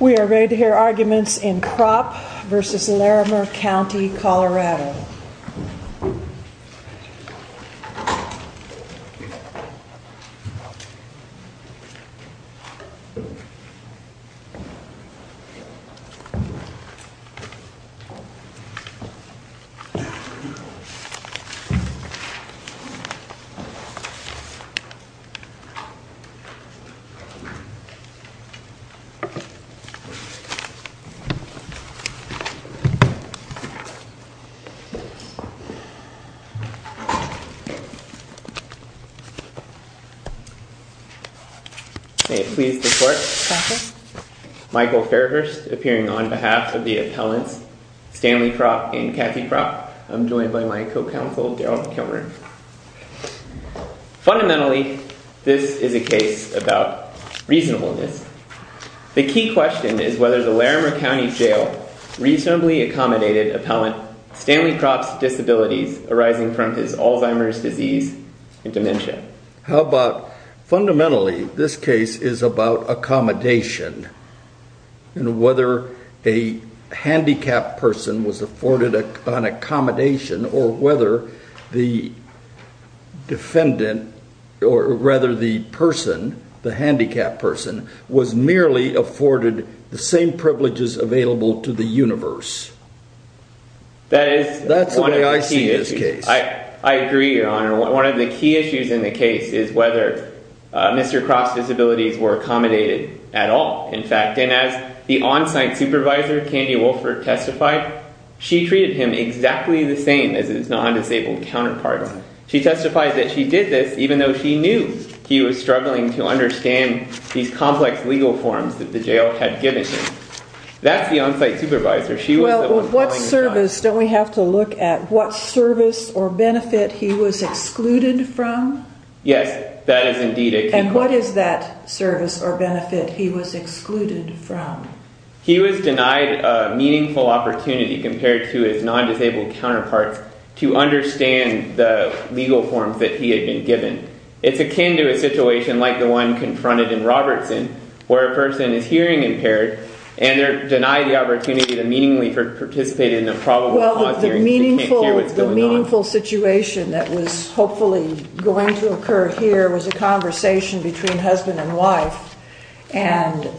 We are ready to hear arguments in Cropp v. Larimer County, Colorado. May it please the court, Michael Fairhurst appearing on behalf of the appellants, Stanley Cropp and Kathy Cropp. I am joined by my co-counsel, Darrell Kilmer. Fundamentally, this is a case about reasonableness. The key question is whether the Larimer County Jail reasonably accommodated appellant, Stanley Cropp's disabilities arising from his Alzheimer's disease and dementia. How about, fundamentally, this case is about accommodation and whether a handicapped person was afforded an accommodation or whether the defendant, or rather the person, the handicapped person, was merely afforded the same privileges available to the universe. That is one of the key issues. That's the way I see this case. I agree, Your Honor. One of the key issues in the case is whether Mr. Cropp's disabilities were accommodated at all, in fact. And as the on-site supervisor, Candy Wolfert, testified, she treated him exactly the same as his non-disabled counterparts. She testified that she did this even though she knew he was struggling to understand these complex legal forms that the jail had given him. That's the on-site supervisor. She was the one calling the shots. Well, what service, don't we have to look at what service or benefit he was excluded from? Yes, that is indeed a key question. And what is that service or benefit he was excluded from? He was denied a meaningful opportunity compared to his non-disabled counterparts to understand the legal forms that he had been given. It's akin to a situation like the one confronted in Robertson, where a person is hearing impaired and they're denied the opportunity to meaningfully participate in a probable cause hearing because they can't hear what's going on. The most meaningful situation that was hopefully going to occur here was a conversation between husband and wife. And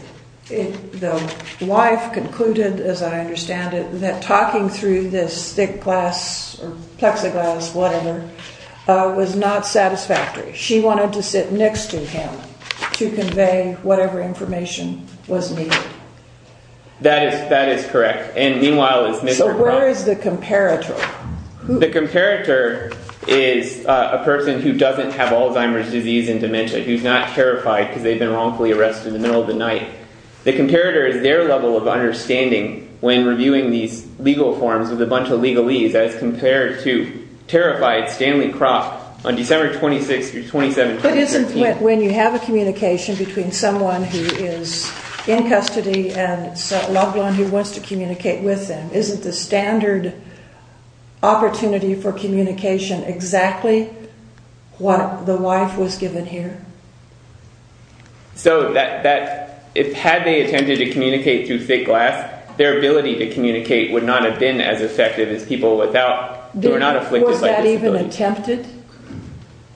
the wife concluded, as I understand it, that talking through this thick glass or plexiglass, whatever, was not satisfactory. She wanted to sit next to him to convey whatever information was needed. That is correct. And meanwhile, it's... So where is the comparator? The comparator is a person who doesn't have Alzheimer's disease and dementia, who's not terrified because they've been wrongfully arrested in the middle of the night. The comparator is their level of understanding when reviewing these legal forms with a bunch of legalese as compared to terrified Stanley Kroc on December 26th through 27th 2013. But isn't when you have a communication between someone who is in custody and a loved one who wants to communicate with them, isn't the standard opportunity for communication exactly what the wife was given here? So had they attempted to communicate through thick glass, their ability to communicate would not have been as effective as people who are not afflicted by disability. Was that even attempted?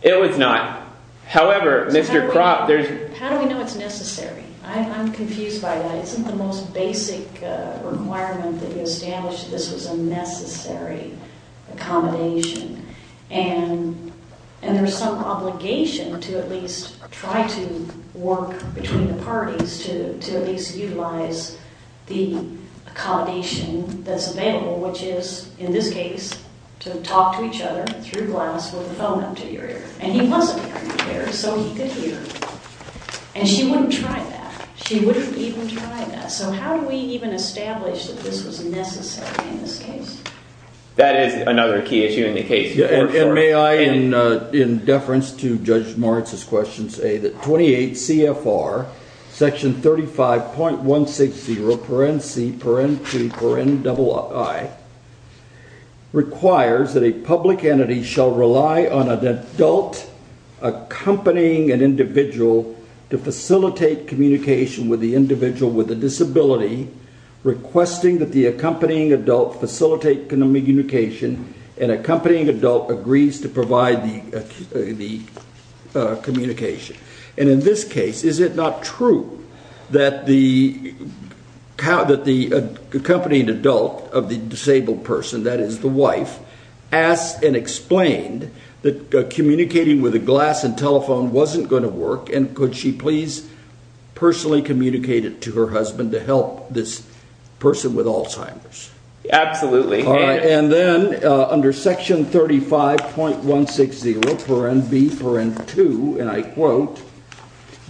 It was not. However, Mr. Kroc, there's... How do we know it's necessary? I'm confused by that. Isn't the most basic requirement that you established that this was a necessary accommodation? And there's some obligation to at least try to work between the parties to at least utilize the accommodation that's available, which is, in this case, to talk to each other through glass with a phone up to your ear. And he wasn't wearing a pair, so he could hear. And she wouldn't try that. She wouldn't even try that. So how do we even establish that this was necessary in this case? That is another key issue in the case, for sure. And may I, in deference to Judge Moritz's question, say that 28 CFR, section 35.160, paren C, paren T, paren double I, requires that a public entity shall rely on an adult accompanying an individual to facilitate communication with the individual with a disability, requesting that the accompanying adult facilitate communication and accompanying adult agrees to provide the communication. And in this case, is it not true that the accompanying adult of the disabled person, that is, the wife, asked and explained that communicating with a glass and telephone wasn't going to work, and could she please personally communicate it to her husband to help this person with Alzheimer's? Absolutely. And then under section 35.160, paren B, paren 2, and I quote,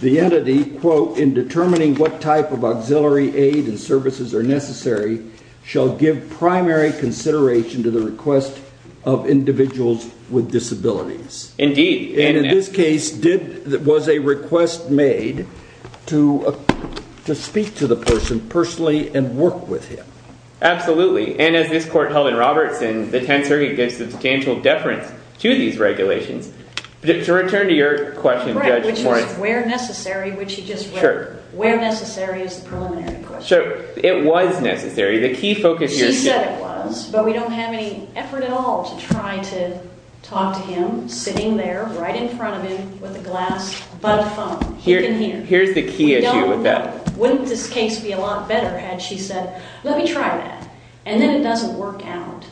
the entity, quote, in determining what type of auxiliary aid and services are necessary, shall give primary consideration to the request of individuals with disabilities. Indeed. And in this case, was a request made to speak to the person personally and work with him. Absolutely. And as this court held in Robertson, the Tenth Circuit gives substantial deference to these regulations. To return to your question, Judge Moritz. Where necessary, which you just read, where necessary is the preliminary question. Sure. It was necessary. She said it was, but we don't have any effort at all to try to talk to him sitting there right in front of him with a glass, but a phone. Here's the key issue with that. Wouldn't this case be a lot better had she said, let me try that? And then it doesn't work out.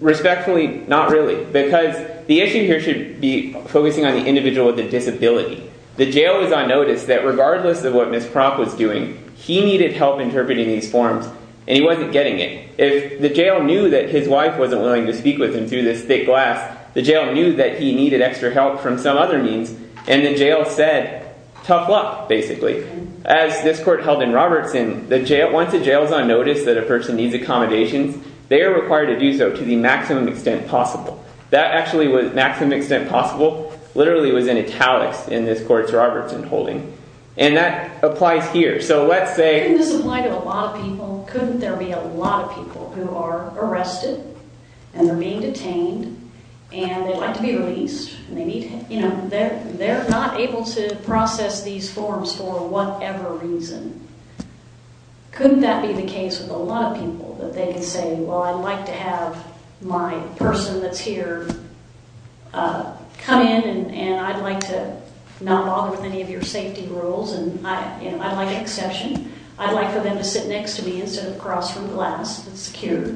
Respectfully, not really. Because the issue here should be focusing on the individual with a disability. The jail is on notice that regardless of what Ms. Propp was doing, he needed help interpreting these forms and he wasn't getting it. If the jail knew that his wife wasn't willing to speak with him through this thick glass, the jail knew that he needed extra help from some other means, and the jail said, tough luck, basically. As this court held in Robertson, once a jail is on notice that a person needs accommodations, they are required to do so to the maximum extent possible. That actually was maximum extent possible. Literally, it was in italics in this court's Robertson holding. And that applies here. So let's say... Couldn't this apply to a lot of people? Couldn't there be a lot of people who are arrested and they're being detained and they'd like to be released? They're not able to process these forms for whatever reason. Couldn't that be the case with a lot of people? That they could say, well, I'd like to have my person that's here come in and I'd like to not bother with any of your safety rules and I'd like an exception. I'd like for them to sit next to me instead of across from glass. It's secure.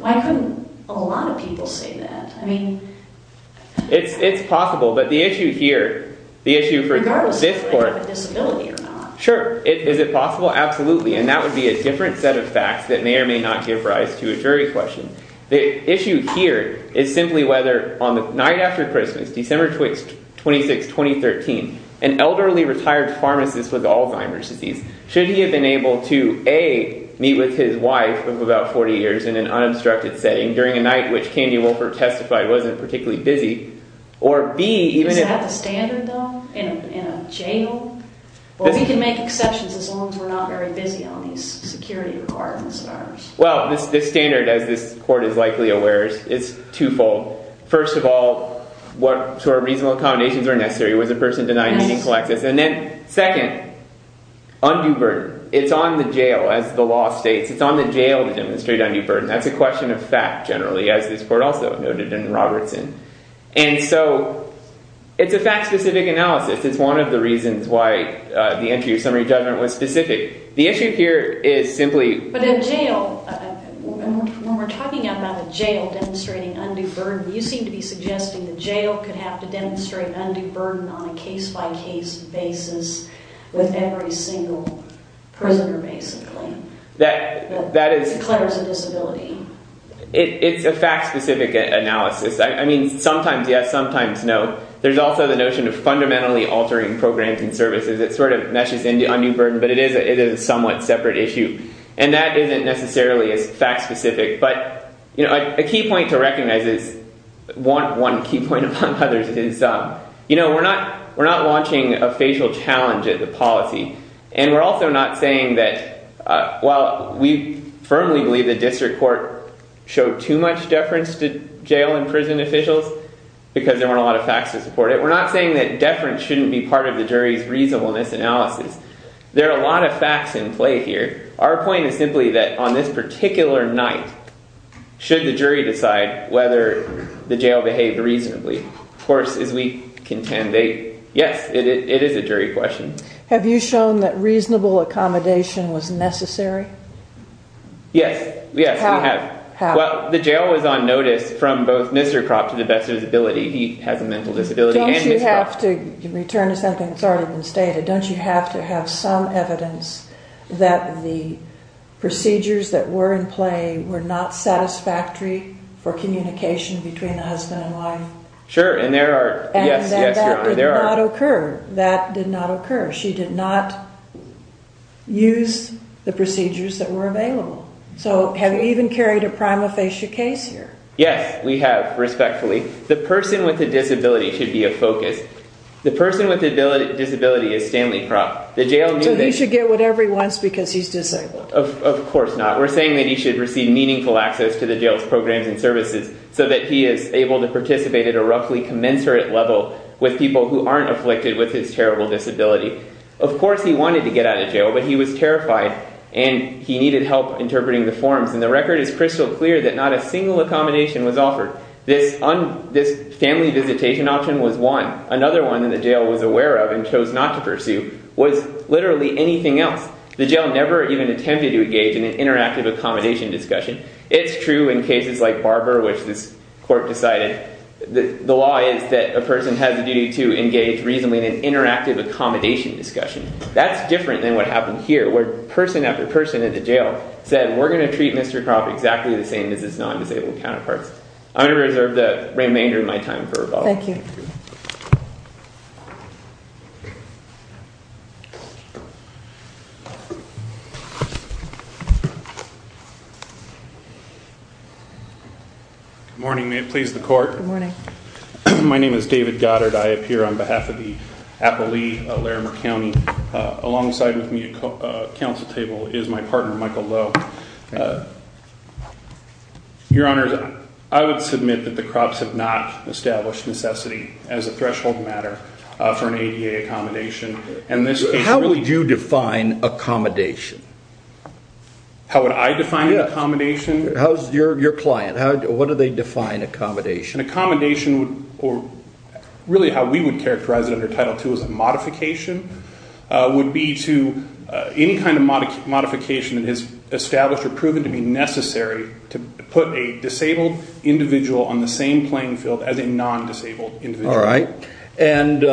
Why couldn't a lot of people say that? It's possible, but the issue here, the issue for this court... Regardless of whether they have a disability or not. Sure. Is it possible? Absolutely. And that would be a different set of facts that may or may not give rise to a jury question. The issue here is simply whether on the night after Christmas, December 26, 2013, an elderly retired pharmacist with Alzheimer's disease, should he have been able to, A, meet with his wife of about 40 years in an unobstructed setting during a night which Candy Wolfert testified wasn't particularly busy, or B, even if... Is that the standard, though? In a jail? Well, we can make exceptions as long as we're not very busy on these security requirements of ours. Well, this standard, as this court is likely aware, is twofold. First of all, what sort of reasonable accommodations are necessary? Was the person denied medical access? Yes. And then, second, undue burden. It's on the jail, as the law states. It's on the jail to demonstrate undue burden. That's a question of fact, generally, as this court also noted in Robertson. And so, it's a fact-specific analysis. It's one of the reasons why the entry of summary judgment was specific. The issue here is simply... But in jail, when we're talking about a jail demonstrating undue burden, you seem to be suggesting the jail could have to demonstrate undue burden on a case-by-case basis with every single prisoner, basically, that declares a disability. It's a fact-specific analysis. I mean, sometimes yes, sometimes no. There's also the notion of fundamentally altering programs and services. It sort of meshes into undue burden, but it is a somewhat separate issue. And that isn't necessarily as fact-specific. But a key point to recognize is... One key point, among others, is we're not launching a facial challenge at the policy. And we're also not saying that while we firmly believe the district court showed too much deference to jail and prison officials because there weren't a lot of facts to support it, we're not saying that deference shouldn't be part of the jury's reasonableness analysis. There are a lot of facts in play here. Our point is simply that, on this particular night, should the jury decide whether the jail behaved reasonably? Of course, as we contend, yes, it is a jury question. Have you shown that reasonable accommodation was necessary? Yes. Yes, we have. Well, the jail was on notice from both Mr. Kropp to the best of his ability. He has a mental disability and Ms. Kropp. Don't you have to return to something that's already been stated? Don't you have to have some evidence that the procedures that were in play were not satisfactory for communication between the husband and wife? Sure, and there are... Yes, yes, there are. And that did not occur. That did not occur. She did not use the procedures that were available. So have you even carried a prima facie case here? Yes, we have, respectfully. The person with the disability should be a focus. The person with the disability is Stanley Kropp. So he should get whatever he wants because he's disabled? Of course not. We're saying that he should receive meaningful access to the jail's programs and services so that he is able to participate at a roughly commensurate level with people who aren't afflicted with his terrible disability. Of course he wanted to get out of jail, but he was terrified, and he needed help interpreting the forms, and the record is crystal clear that not a single accommodation was offered. This family visitation option was one. Another one that the jail was aware of and chose not to pursue was literally anything else. The jail never even attempted to engage in an interactive accommodation discussion. It's true in cases like Barber, which this court decided the law is that a person has a duty to engage reasonably in an interactive accommodation discussion. That's different than what happened here where person after person at the jail said, we're going to treat Mr. Kropp exactly the same as his non-disabled counterparts. I'm going to reserve the remainder of my time for rebuttal. Thank you. Good morning. May it please the court. Good morning. My name is David Goddard. I appear on behalf of the Appalachee-Larimer County and alongside with me at council table is my partner, Michael Lowe. Your Honor, I would submit that the Kropps have not established necessity as a threshold matter for an ADA accommodation. How would you define accommodation? How would I define accommodation? How's your client? What do they define accommodation? An accommodation, or really how we would characterize it under Title II, which was a modification, would be to any kind of modification that is established or proven to be necessary to put a disabled individual on the same playing field as a non-disabled individual. All right. And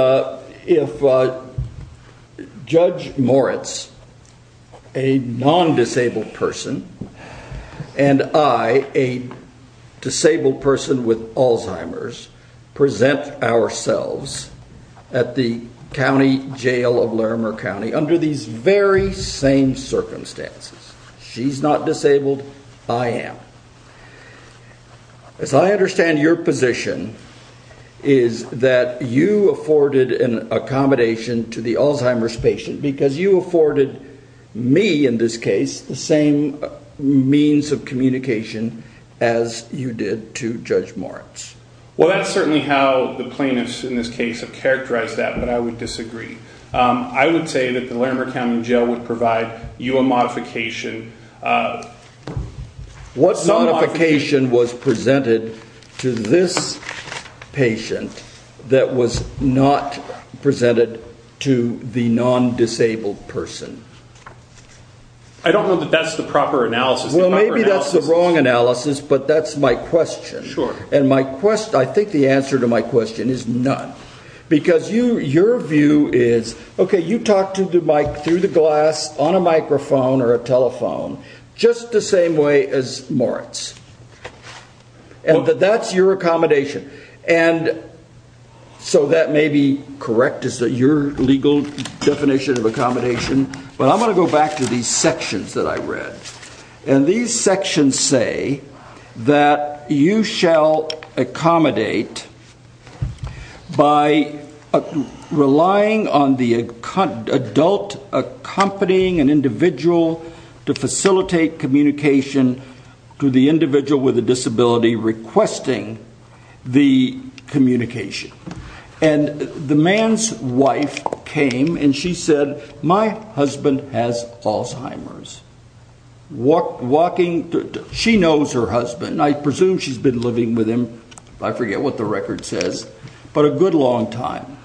if Judge Moritz, a non-disabled person, and I, a disabled person with Alzheimer's, present ourselves at the county jail of Larimer County under these very same circumstances, she's not disabled, I am, as I understand your position is that you afforded an accommodation to the Alzheimer's patient because you afforded me, in this case, the same means of communication as you did to Judge Moritz. Well, that's certainly how the plaintiffs in this case have characterized that, but I would disagree. I would say that the Larimer County Jail would provide you a modification. What modification was presented to this patient that was not presented to the non-disabled person? I don't know that that's the proper analysis. Well, maybe that's the wrong analysis, but that's my question. Sure. And my question, I think the answer to my question is none. Because your view is, okay, you talked to the mic through the glass on a microphone or a telephone just the same way as Moritz. And that that's your accommodation. And so that may be correct, is that your legal definition of accommodation, but I'm going to go back to these sections that I read. And these sections say that you shall accommodate by relying on the adult accompanying an individual to facilitate communication to the individual with a disability requesting the communication. And the man's wife came and she said, my husband has Alzheimer's. She knows her husband. I presume she's been living with him. I forget what the record says, but a good long time.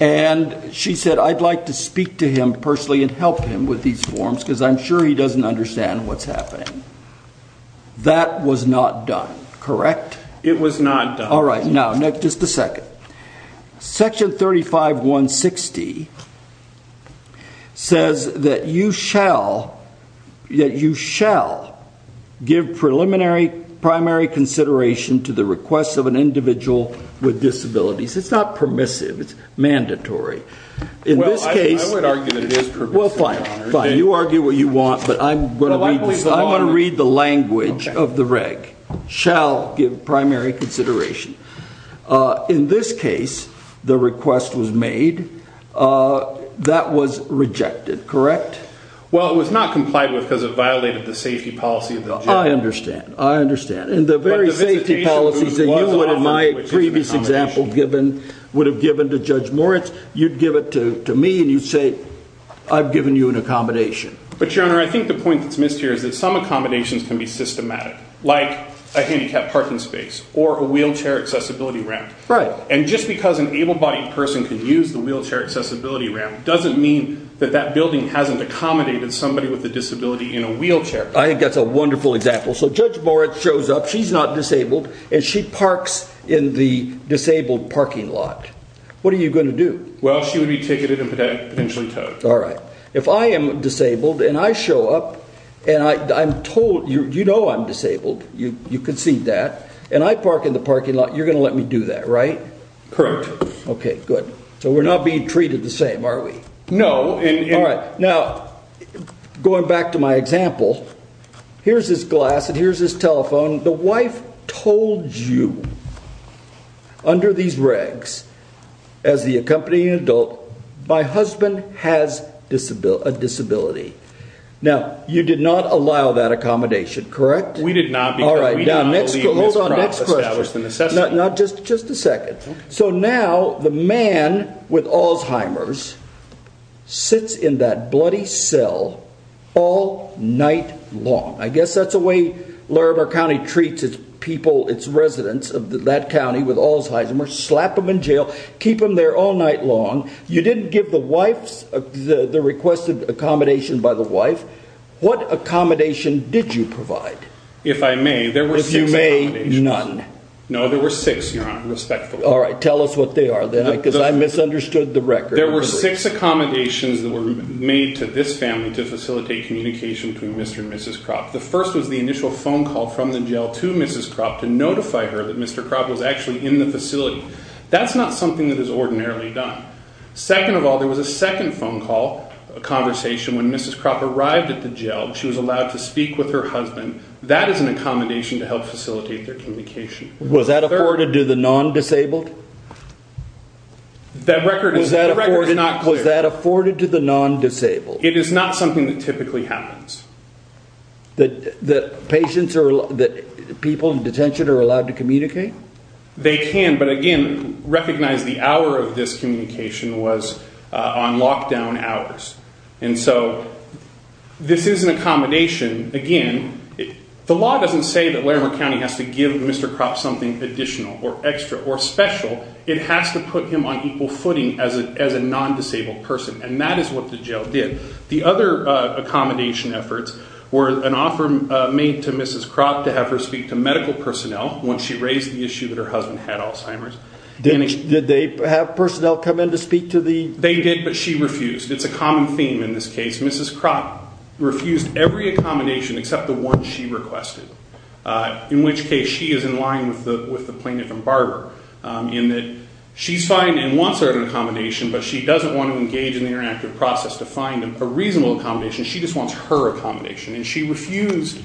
And she said, I'd like to speak to him personally and help him with these forms because I'm sure he doesn't understand what's happening. That was not done, correct? It was not done. All right. Now, just a second. Section 35160 says that you shall give preliminary, primary consideration to the request of an individual with disabilities. It's not permissive. It's mandatory. In this case... Well, I would argue that it is permissive. Well, fine, fine. You argue what you want, but I'm going to read the language of the reg. Shall give primary consideration. In this case, the request was made. That was rejected, correct? Well, it was not complied with because it violated the safety policy of the judge. I understand. I understand. And the very safety policies that you would have, in my previous example, would have given to Judge Moritz, you'd give it to me and you'd say, I've given you an accommodation. But, Your Honor, I think the point that's missed here is that some accommodations can be systematic, like a handicapped parking space or a wheelchair accessibility ramp. Right. And just because an able-bodied person can use the wheelchair accessibility ramp doesn't mean that that building hasn't accommodated somebody with a disability in a wheelchair. I think that's a wonderful example. So Judge Moritz shows up, she's not disabled, and she parks in the disabled parking lot. What are you going to do? Well, she would be ticketed and potentially towed. All right. If I am disabled and I show up, and I'm told, you know I'm disabled, you can see that, and I park in the parking lot, you're going to let me do that, right? Correct. Okay, good. So we're not being treated the same, are we? No. All right. Now, going back to my example, here's this glass and here's this telephone. The wife told you, under these regs, as the accompanying adult, my husband has a disability. Now, you did not allow that accommodation, correct? We did not. All right. Now, hold on. Next question. Just a second. So now the man with Alzheimer's sits in that bloody cell all night long. I guess that's the way Larimer County treats its people, its residents of that county with Alzheimer's. Slap them in jail. Keep them there all night long. You didn't give the wife the requested accommodation by the wife. What accommodation did you provide? If I may, there were six accommodations. If you may, none. No, there were six, Your Honor, respectfully. All right. Tell us what they are, then, because I misunderstood the record. There were six accommodations that were made to this family to facilitate communication between Mr. and Mrs. Kropp. The first was the initial phone call from the jail to Mrs. Kropp to notify her that Mr. Kropp was actually in the facility. That's not something that is ordinarily done. Second of all, there was a second phone call, a conversation, when Mrs. Kropp arrived at the jail. She was allowed to speak with her husband. That is an accommodation to help facilitate their communication. Was that afforded to the non-disabled? That record is not clear. Was that afforded to the non-disabled? It is not something that typically happens. The patients or people in detention are allowed to communicate? They can, but, again, recognize the hour of this communication was on lockdown hours. And so this is an accommodation, again. The law doesn't say that Larimer County has to give Mr. Kropp something additional or extra or special. It has to put him on equal footing as a non-disabled person, and that is what the jail did. The other accommodation efforts were an offer made to Mrs. Kropp to have her speak to medical personnel once she raised the issue that her husband had Alzheimer's. Did they have personnel come in to speak to the... They did, but she refused. It's a common theme in this case. Mrs. Kropp refused every accommodation except the one she requested, in which case she is in line with the plaintiff and barber in that she's fine and wants her accommodation, but she doesn't want to engage in the interactive process to find a reasonable accommodation. She just wants her accommodation. And she refused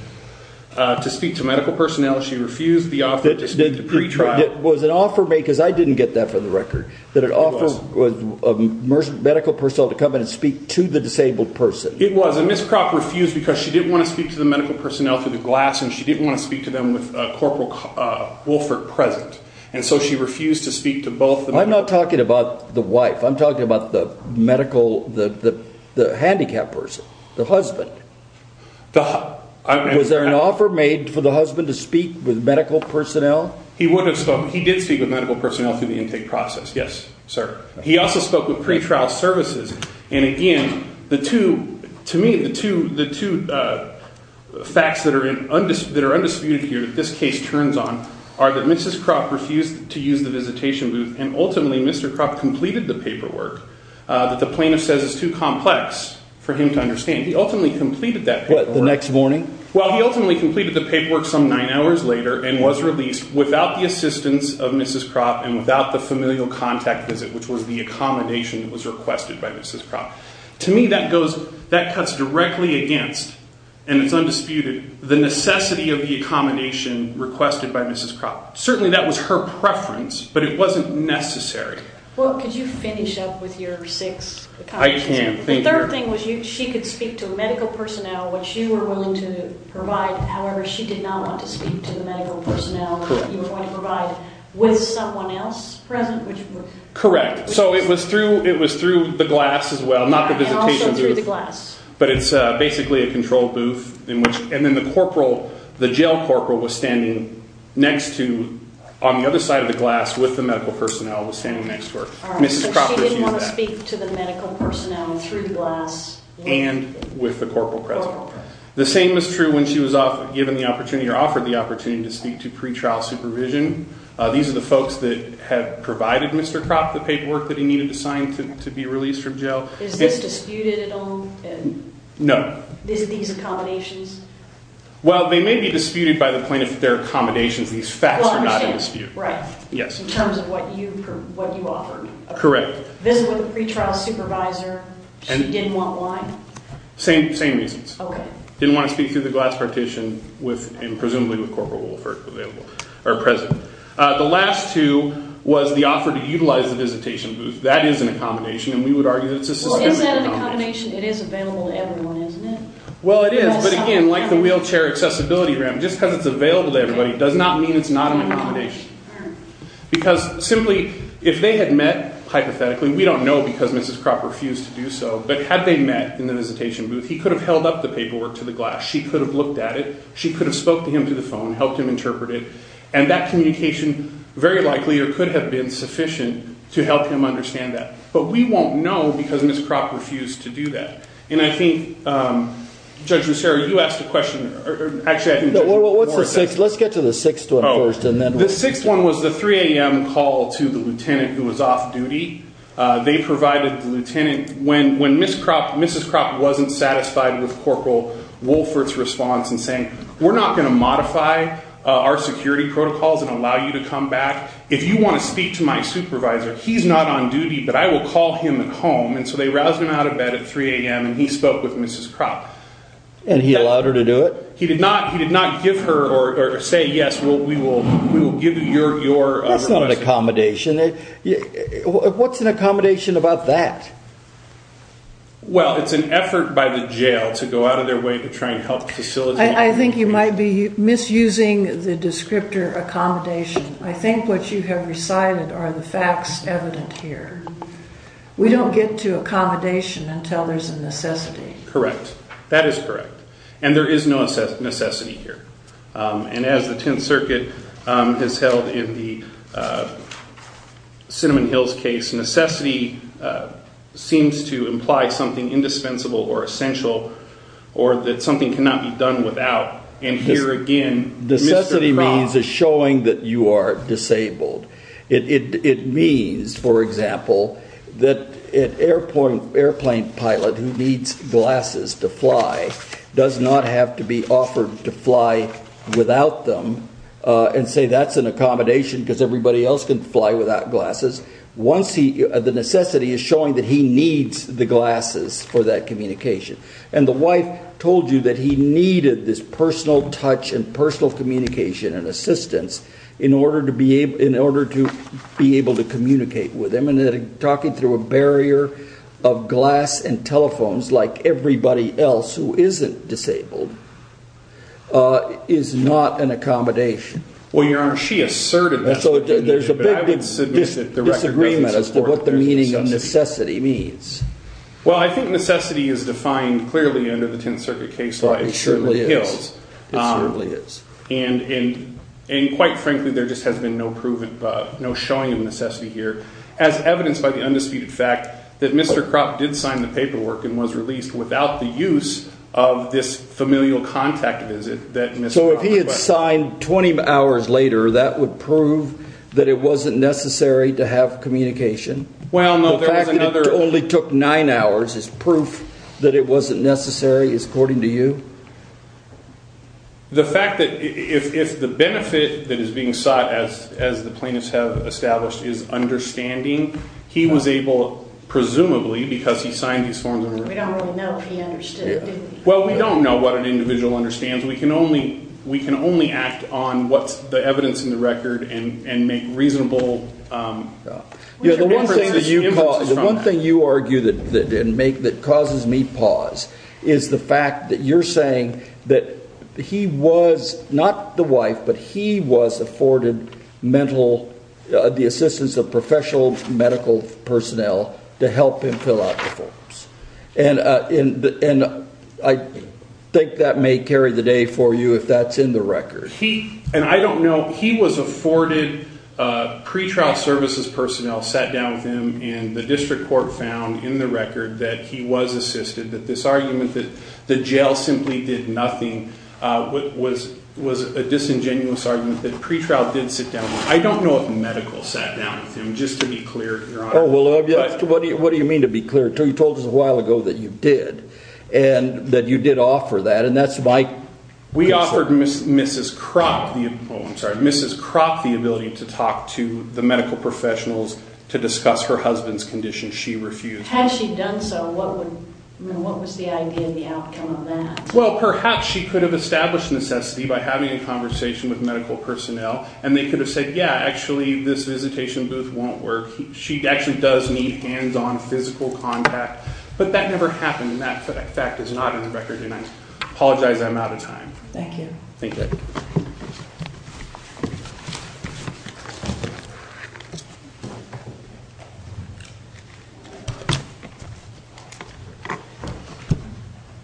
to speak to medical personnel. She refused the offer to speak to pre-trial. It was an offer made, because I didn't get that for the record, that an offer of medical personnel to come in and speak to the disabled person. It was, and Mrs. Kropp refused because she didn't want to speak to the medical personnel through the glass, and she didn't want to speak to them with Corporal Wolfert present. And so she refused to speak to both of them. I'm not talking about the wife. I'm talking about the medical, the handicapped person, the husband. Was there an offer made for the husband to speak with medical personnel? He would have spoken. He did speak with medical personnel through the intake process, yes, sir. He also spoke with pre-trial services. And again, the two, to me, the two facts that are undisputed here that this case turns on are that Mrs. Kropp refused to use the visitation booth, and ultimately Mr. Kropp completed the paperwork that the plaintiff says is too complex for him to understand. He ultimately completed that paperwork. What, the next morning? Well, he ultimately completed the paperwork some nine hours later and was released without the assistance of Mrs. Kropp and without the familial contact visit, which was the accommodation that was requested by Mrs. Kropp. To me, that cuts directly against, and it's undisputed, the necessity of the accommodation requested by Mrs. Kropp. Certainly that was her preference, but it wasn't necessary. Well, could you finish up with your six accommodations? I can. The third thing was she could speak to medical personnel, which you were willing to provide. However, she did not want to speak to the medical personnel that you were going to provide with someone else present. Correct. So it was through the glass as well, not the visitation booth. And also through the glass. But it's basically a control booth. And then the jail corporal was standing next to, on the other side of the glass with the medical personnel, was standing next to her. So she didn't want to speak to the medical personnel through glass. And with the corporal present. The same was true when she was given the opportunity or offered the opportunity to speak to pretrial supervision. These are the folks that had provided Mr. Kropp the paperwork that he needed to sign to be released from jail. Is this disputed at all? No. Is these accommodations? Well, they may be disputed by the plaintiff if they're accommodations. These facts are not in dispute. Well, I understand. Right. Yes. In terms of what you offered. Correct. Visit with a pretrial supervisor. She didn't want one. Same reasons. Okay. Didn't want to speak through the glass partition and presumably with corporal Wolfert present. The last two was the offer to utilize the visitation booth. That is an accommodation. And we would argue that it's a suspended accommodation. It is available to everyone, isn't it? Well, it is. But again, like the wheelchair accessibility grant, just because it's available to everybody does not mean it's not an accommodation. Because simply if they had met hypothetically, we don't know because Mrs. Kropp refused to do so, but had they met in the visitation booth, he could have held up the paperwork to the glass. She could have looked at it. She could have spoke to him through the phone, helped him interpret it. And that communication very likely or could have been sufficient to help him understand that. But we won't know because Mrs. Kropp refused to do that. And I think, Judge Lucero, you asked a question. Actually, I think Judge Moore did. Let's get to the sixth one first. The sixth one was the 3 a.m. call to the lieutenant who was off duty. They provided the lieutenant when Mrs. Kropp wasn't satisfied with corporal Wolfert's response in saying, we're not going to modify our security protocols and allow you to come back. If you want to speak to my supervisor, he's not on duty, but I will call him at home. And so they roused him out of bed at 3 a.m. and he spoke with Mrs. Kropp. And he allowed her to do it? He did not give her or say, yes, we will give you your request. That's not an accommodation. What's an accommodation about that? Well, it's an effort by the jail to go out of their way to try and help facilitate. I think you might be misusing the descriptor accommodation. I think what you have recited are the facts evident here. We don't get to accommodation until there's a necessity. Correct. That is correct. And there is no necessity here. And as the Tenth Circuit has held in the Cinnamon Hills case, necessity seems to imply something indispensable or essential or that something cannot be done without. Necessity means is showing that you are disabled. It means, for example, that an airplane pilot who needs glasses to fly does not have to be offered to fly without them and say that's an accommodation because everybody else can fly without glasses. The necessity is showing that he needs the glasses for that communication. And the wife told you that he needed this personal touch and personal communication and assistance in order to be able to communicate with him. And that talking through a barrier of glass and telephones like everybody else who isn't disabled is not an accommodation. Well, Your Honor, she asserted that. So there's a big disagreement as to what the meaning of necessity means. Well, I think necessity is defined clearly under the Tenth Circuit case law in Cinnamon Hills. It certainly is. And quite frankly, there just has been no showing of necessity here as evidenced by the undisputed fact that Mr. Kropp did sign the paperwork and was released without the use of this familial contact visit that Mr. Kropp requested. So if he had signed 20 hours later, that would prove that it wasn't necessary to have communication? Well, no, there was another. The fact that it only took nine hours is proof that it wasn't necessary, according to you? The fact that if the benefit that is being sought, as the plaintiffs have established, is understanding, he was able, presumably, because he signed these forms. We don't really know if he understood, do we? Well, we don't know what an individual understands. We can only act on what's the evidence in the record The one thing you argue that causes me pause is the fact that you're saying that he was not the wife, but he was afforded the assistance of professional medical personnel to help him fill out the forms. And I think that may carry the day for you, if that's in the record. And I don't know, he was afforded pre-trial services personnel sat down with him, and the district court found in the record that he was assisted, that this argument that the jail simply did nothing was a disingenuous argument, that pre-trial did sit down with him. I don't know if medical sat down with him, just to be clear, Your Honor. What do you mean to be clear? You told us a while ago that you did, and that you did offer that, and that's my concern. We offered Mrs. Cropp the ability to talk to the medical professionals to discuss her husband's condition. She refused. Had she done so, what was the idea of the outcome of that? Well, perhaps she could have established necessity by having a conversation with medical personnel, and they could have said, yeah, actually, this visitation booth won't work. She actually does need hands-on physical contact. But that never happened, and that fact is not in the record. And I apologize. I'm out of time. Thank you. Thank you.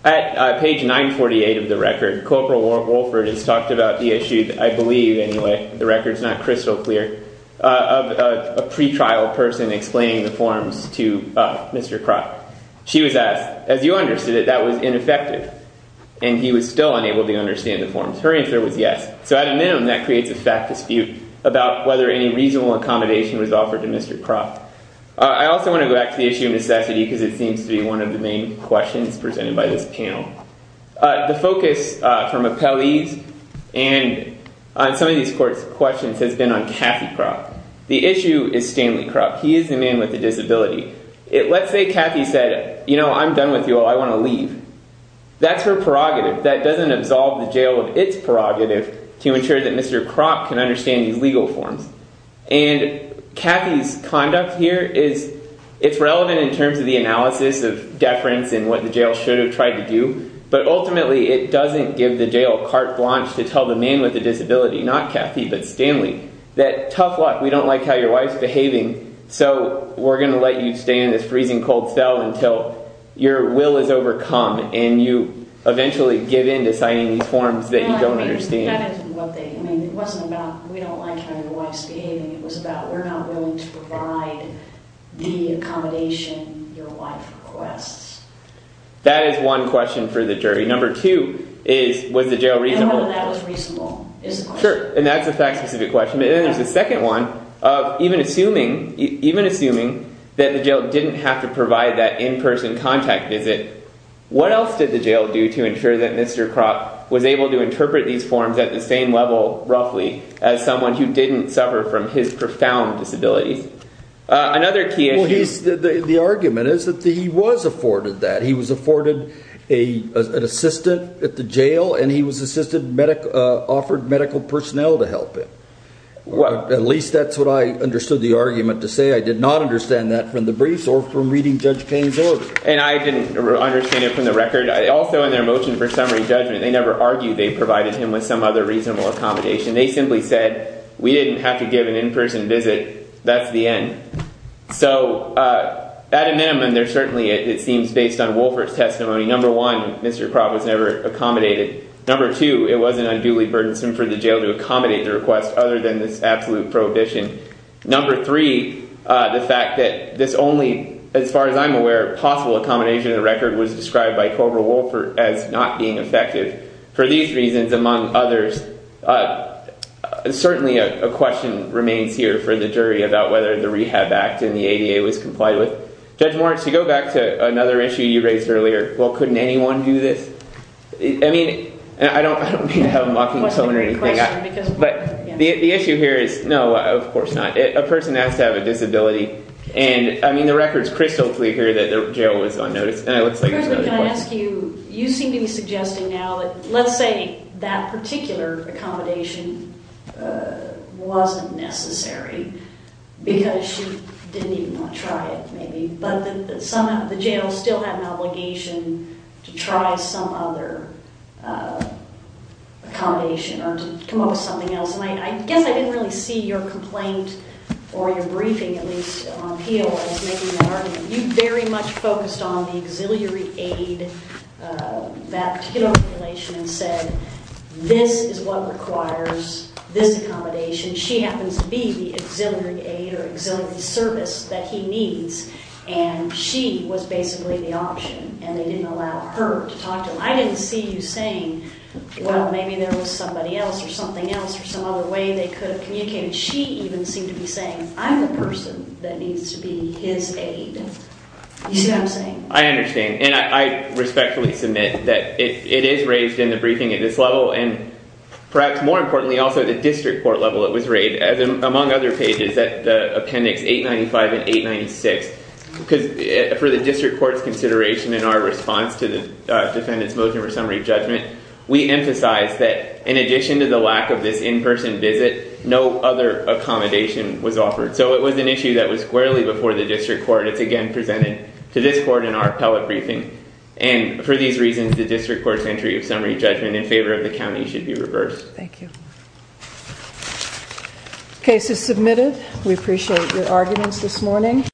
At page 948 of the record, Corporal Wolford has talked about the issue, I believe, anyway, the record's not crystal clear, of a pre-trial person explaining the forms to Mr. Cropp. She was asked, as you understood it, that was ineffective, and he was still unable to understand the forms. Her answer was yes. So at a minimum, that creates a fact dispute about whether any reasonable accommodation was offered to Mr. Cropp. I also want to go back to the issue of necessity, because it seems to be one of the main questions presented by this panel. The focus from appellees and on some of these questions has been on Kathy Cropp. The issue is Stanley Cropp. He is the man with the disability. Let's say Kathy said, you know, I'm done with you all. I want to leave. That's her prerogative. That doesn't absolve the jail of its prerogative to ensure that Mr. Cropp can understand these legal forms. And Kathy's conduct here is, it's relevant in terms of the analysis of deference and what the jail should have tried to do. But ultimately, it doesn't give the jail carte blanche to tell the man with the disability, not Kathy, but Stanley, that tough luck. We don't like how your wife's behaving. So we're going to let you stay in this freezing cold cell until your will is overcome and you eventually give in to citing these forms that you don't understand. That is what they, I mean, it wasn't about we don't like how your wife's behaving. It was about we're not willing to provide the accommodation your wife requests. That is one question for the jury. Number two is, was the jail reasonable? No, that was reasonable. Sure. And that's a fact-specific question. And then there's a second one of even assuming that the jail didn't have to provide that in-person contact visit, what else did the jail do to ensure that Mr. Cropp was able to interpret these forms at the same level, roughly, as someone who didn't suffer from his profound disabilities? Another key issue. Well, the argument is that he was afforded that. Well, at least that's what I understood the argument to say. I did not understand that from the briefs or from reading Judge Payne's order. And I didn't understand it from the record. Also, in their motion for summary judgment, they never argued they provided him with some other reasonable accommodation. They simply said we didn't have to give an in-person visit. That's the end. So at a minimum, there's certainly – it seems based on Wolfert's testimony. Number one, Mr. Cropp was never accommodated. Number two, it wasn't unduly burdensome for the jail to accommodate the request other than this absolute prohibition. Number three, the fact that this only, as far as I'm aware, possible accommodation in the record was described by Cobra Wolfert as not being effective. For these reasons, among others, certainly a question remains here for the jury about whether the Rehab Act and the ADA was complied with. Judge Moritz, to go back to another issue you raised earlier, well, couldn't anyone do this? I mean, I don't mean to have a mocking tone or anything. But the issue here is – no, of course not. A person has to have a disability. And, I mean, the record is crystal clear here that the jail was on notice. And it looks like it was on the report. Chris, can I ask you – you seem to be suggesting now that, let's say, that particular accommodation wasn't necessary because she didn't even want to try it, maybe. But that somehow the jail still had an obligation to try some other accommodation or to come up with something else. And I guess I didn't really see your complaint or your briefing, at least on appeal, as making that argument. You very much focused on the auxiliary aid, that particular population, and said, this is what requires this accommodation. She happens to be the auxiliary aid or auxiliary service that he needs. And she was basically the option. And they didn't allow her to talk to him. I didn't see you saying, well, maybe there was somebody else or something else or some other way they could have communicated. She even seemed to be saying, I'm the person that needs to be his aid. You see what I'm saying? I understand. And I respectfully submit that it is raised in the briefing at this level and perhaps more importantly also at the district court level it was raised, among other pages, at Appendix 895 and 896. Because for the district court's consideration in our response to the defendant's motion for summary judgment, we emphasized that in addition to the lack of this in-person visit, no other accommodation was offered. So it was an issue that was squarely before the district court. It's again presented to this court in our appellate briefing. And for these reasons, the district court's entry of summary judgment in favor of the county should be reversed. Thank you. Case is submitted. We appreciate your arguments this morning.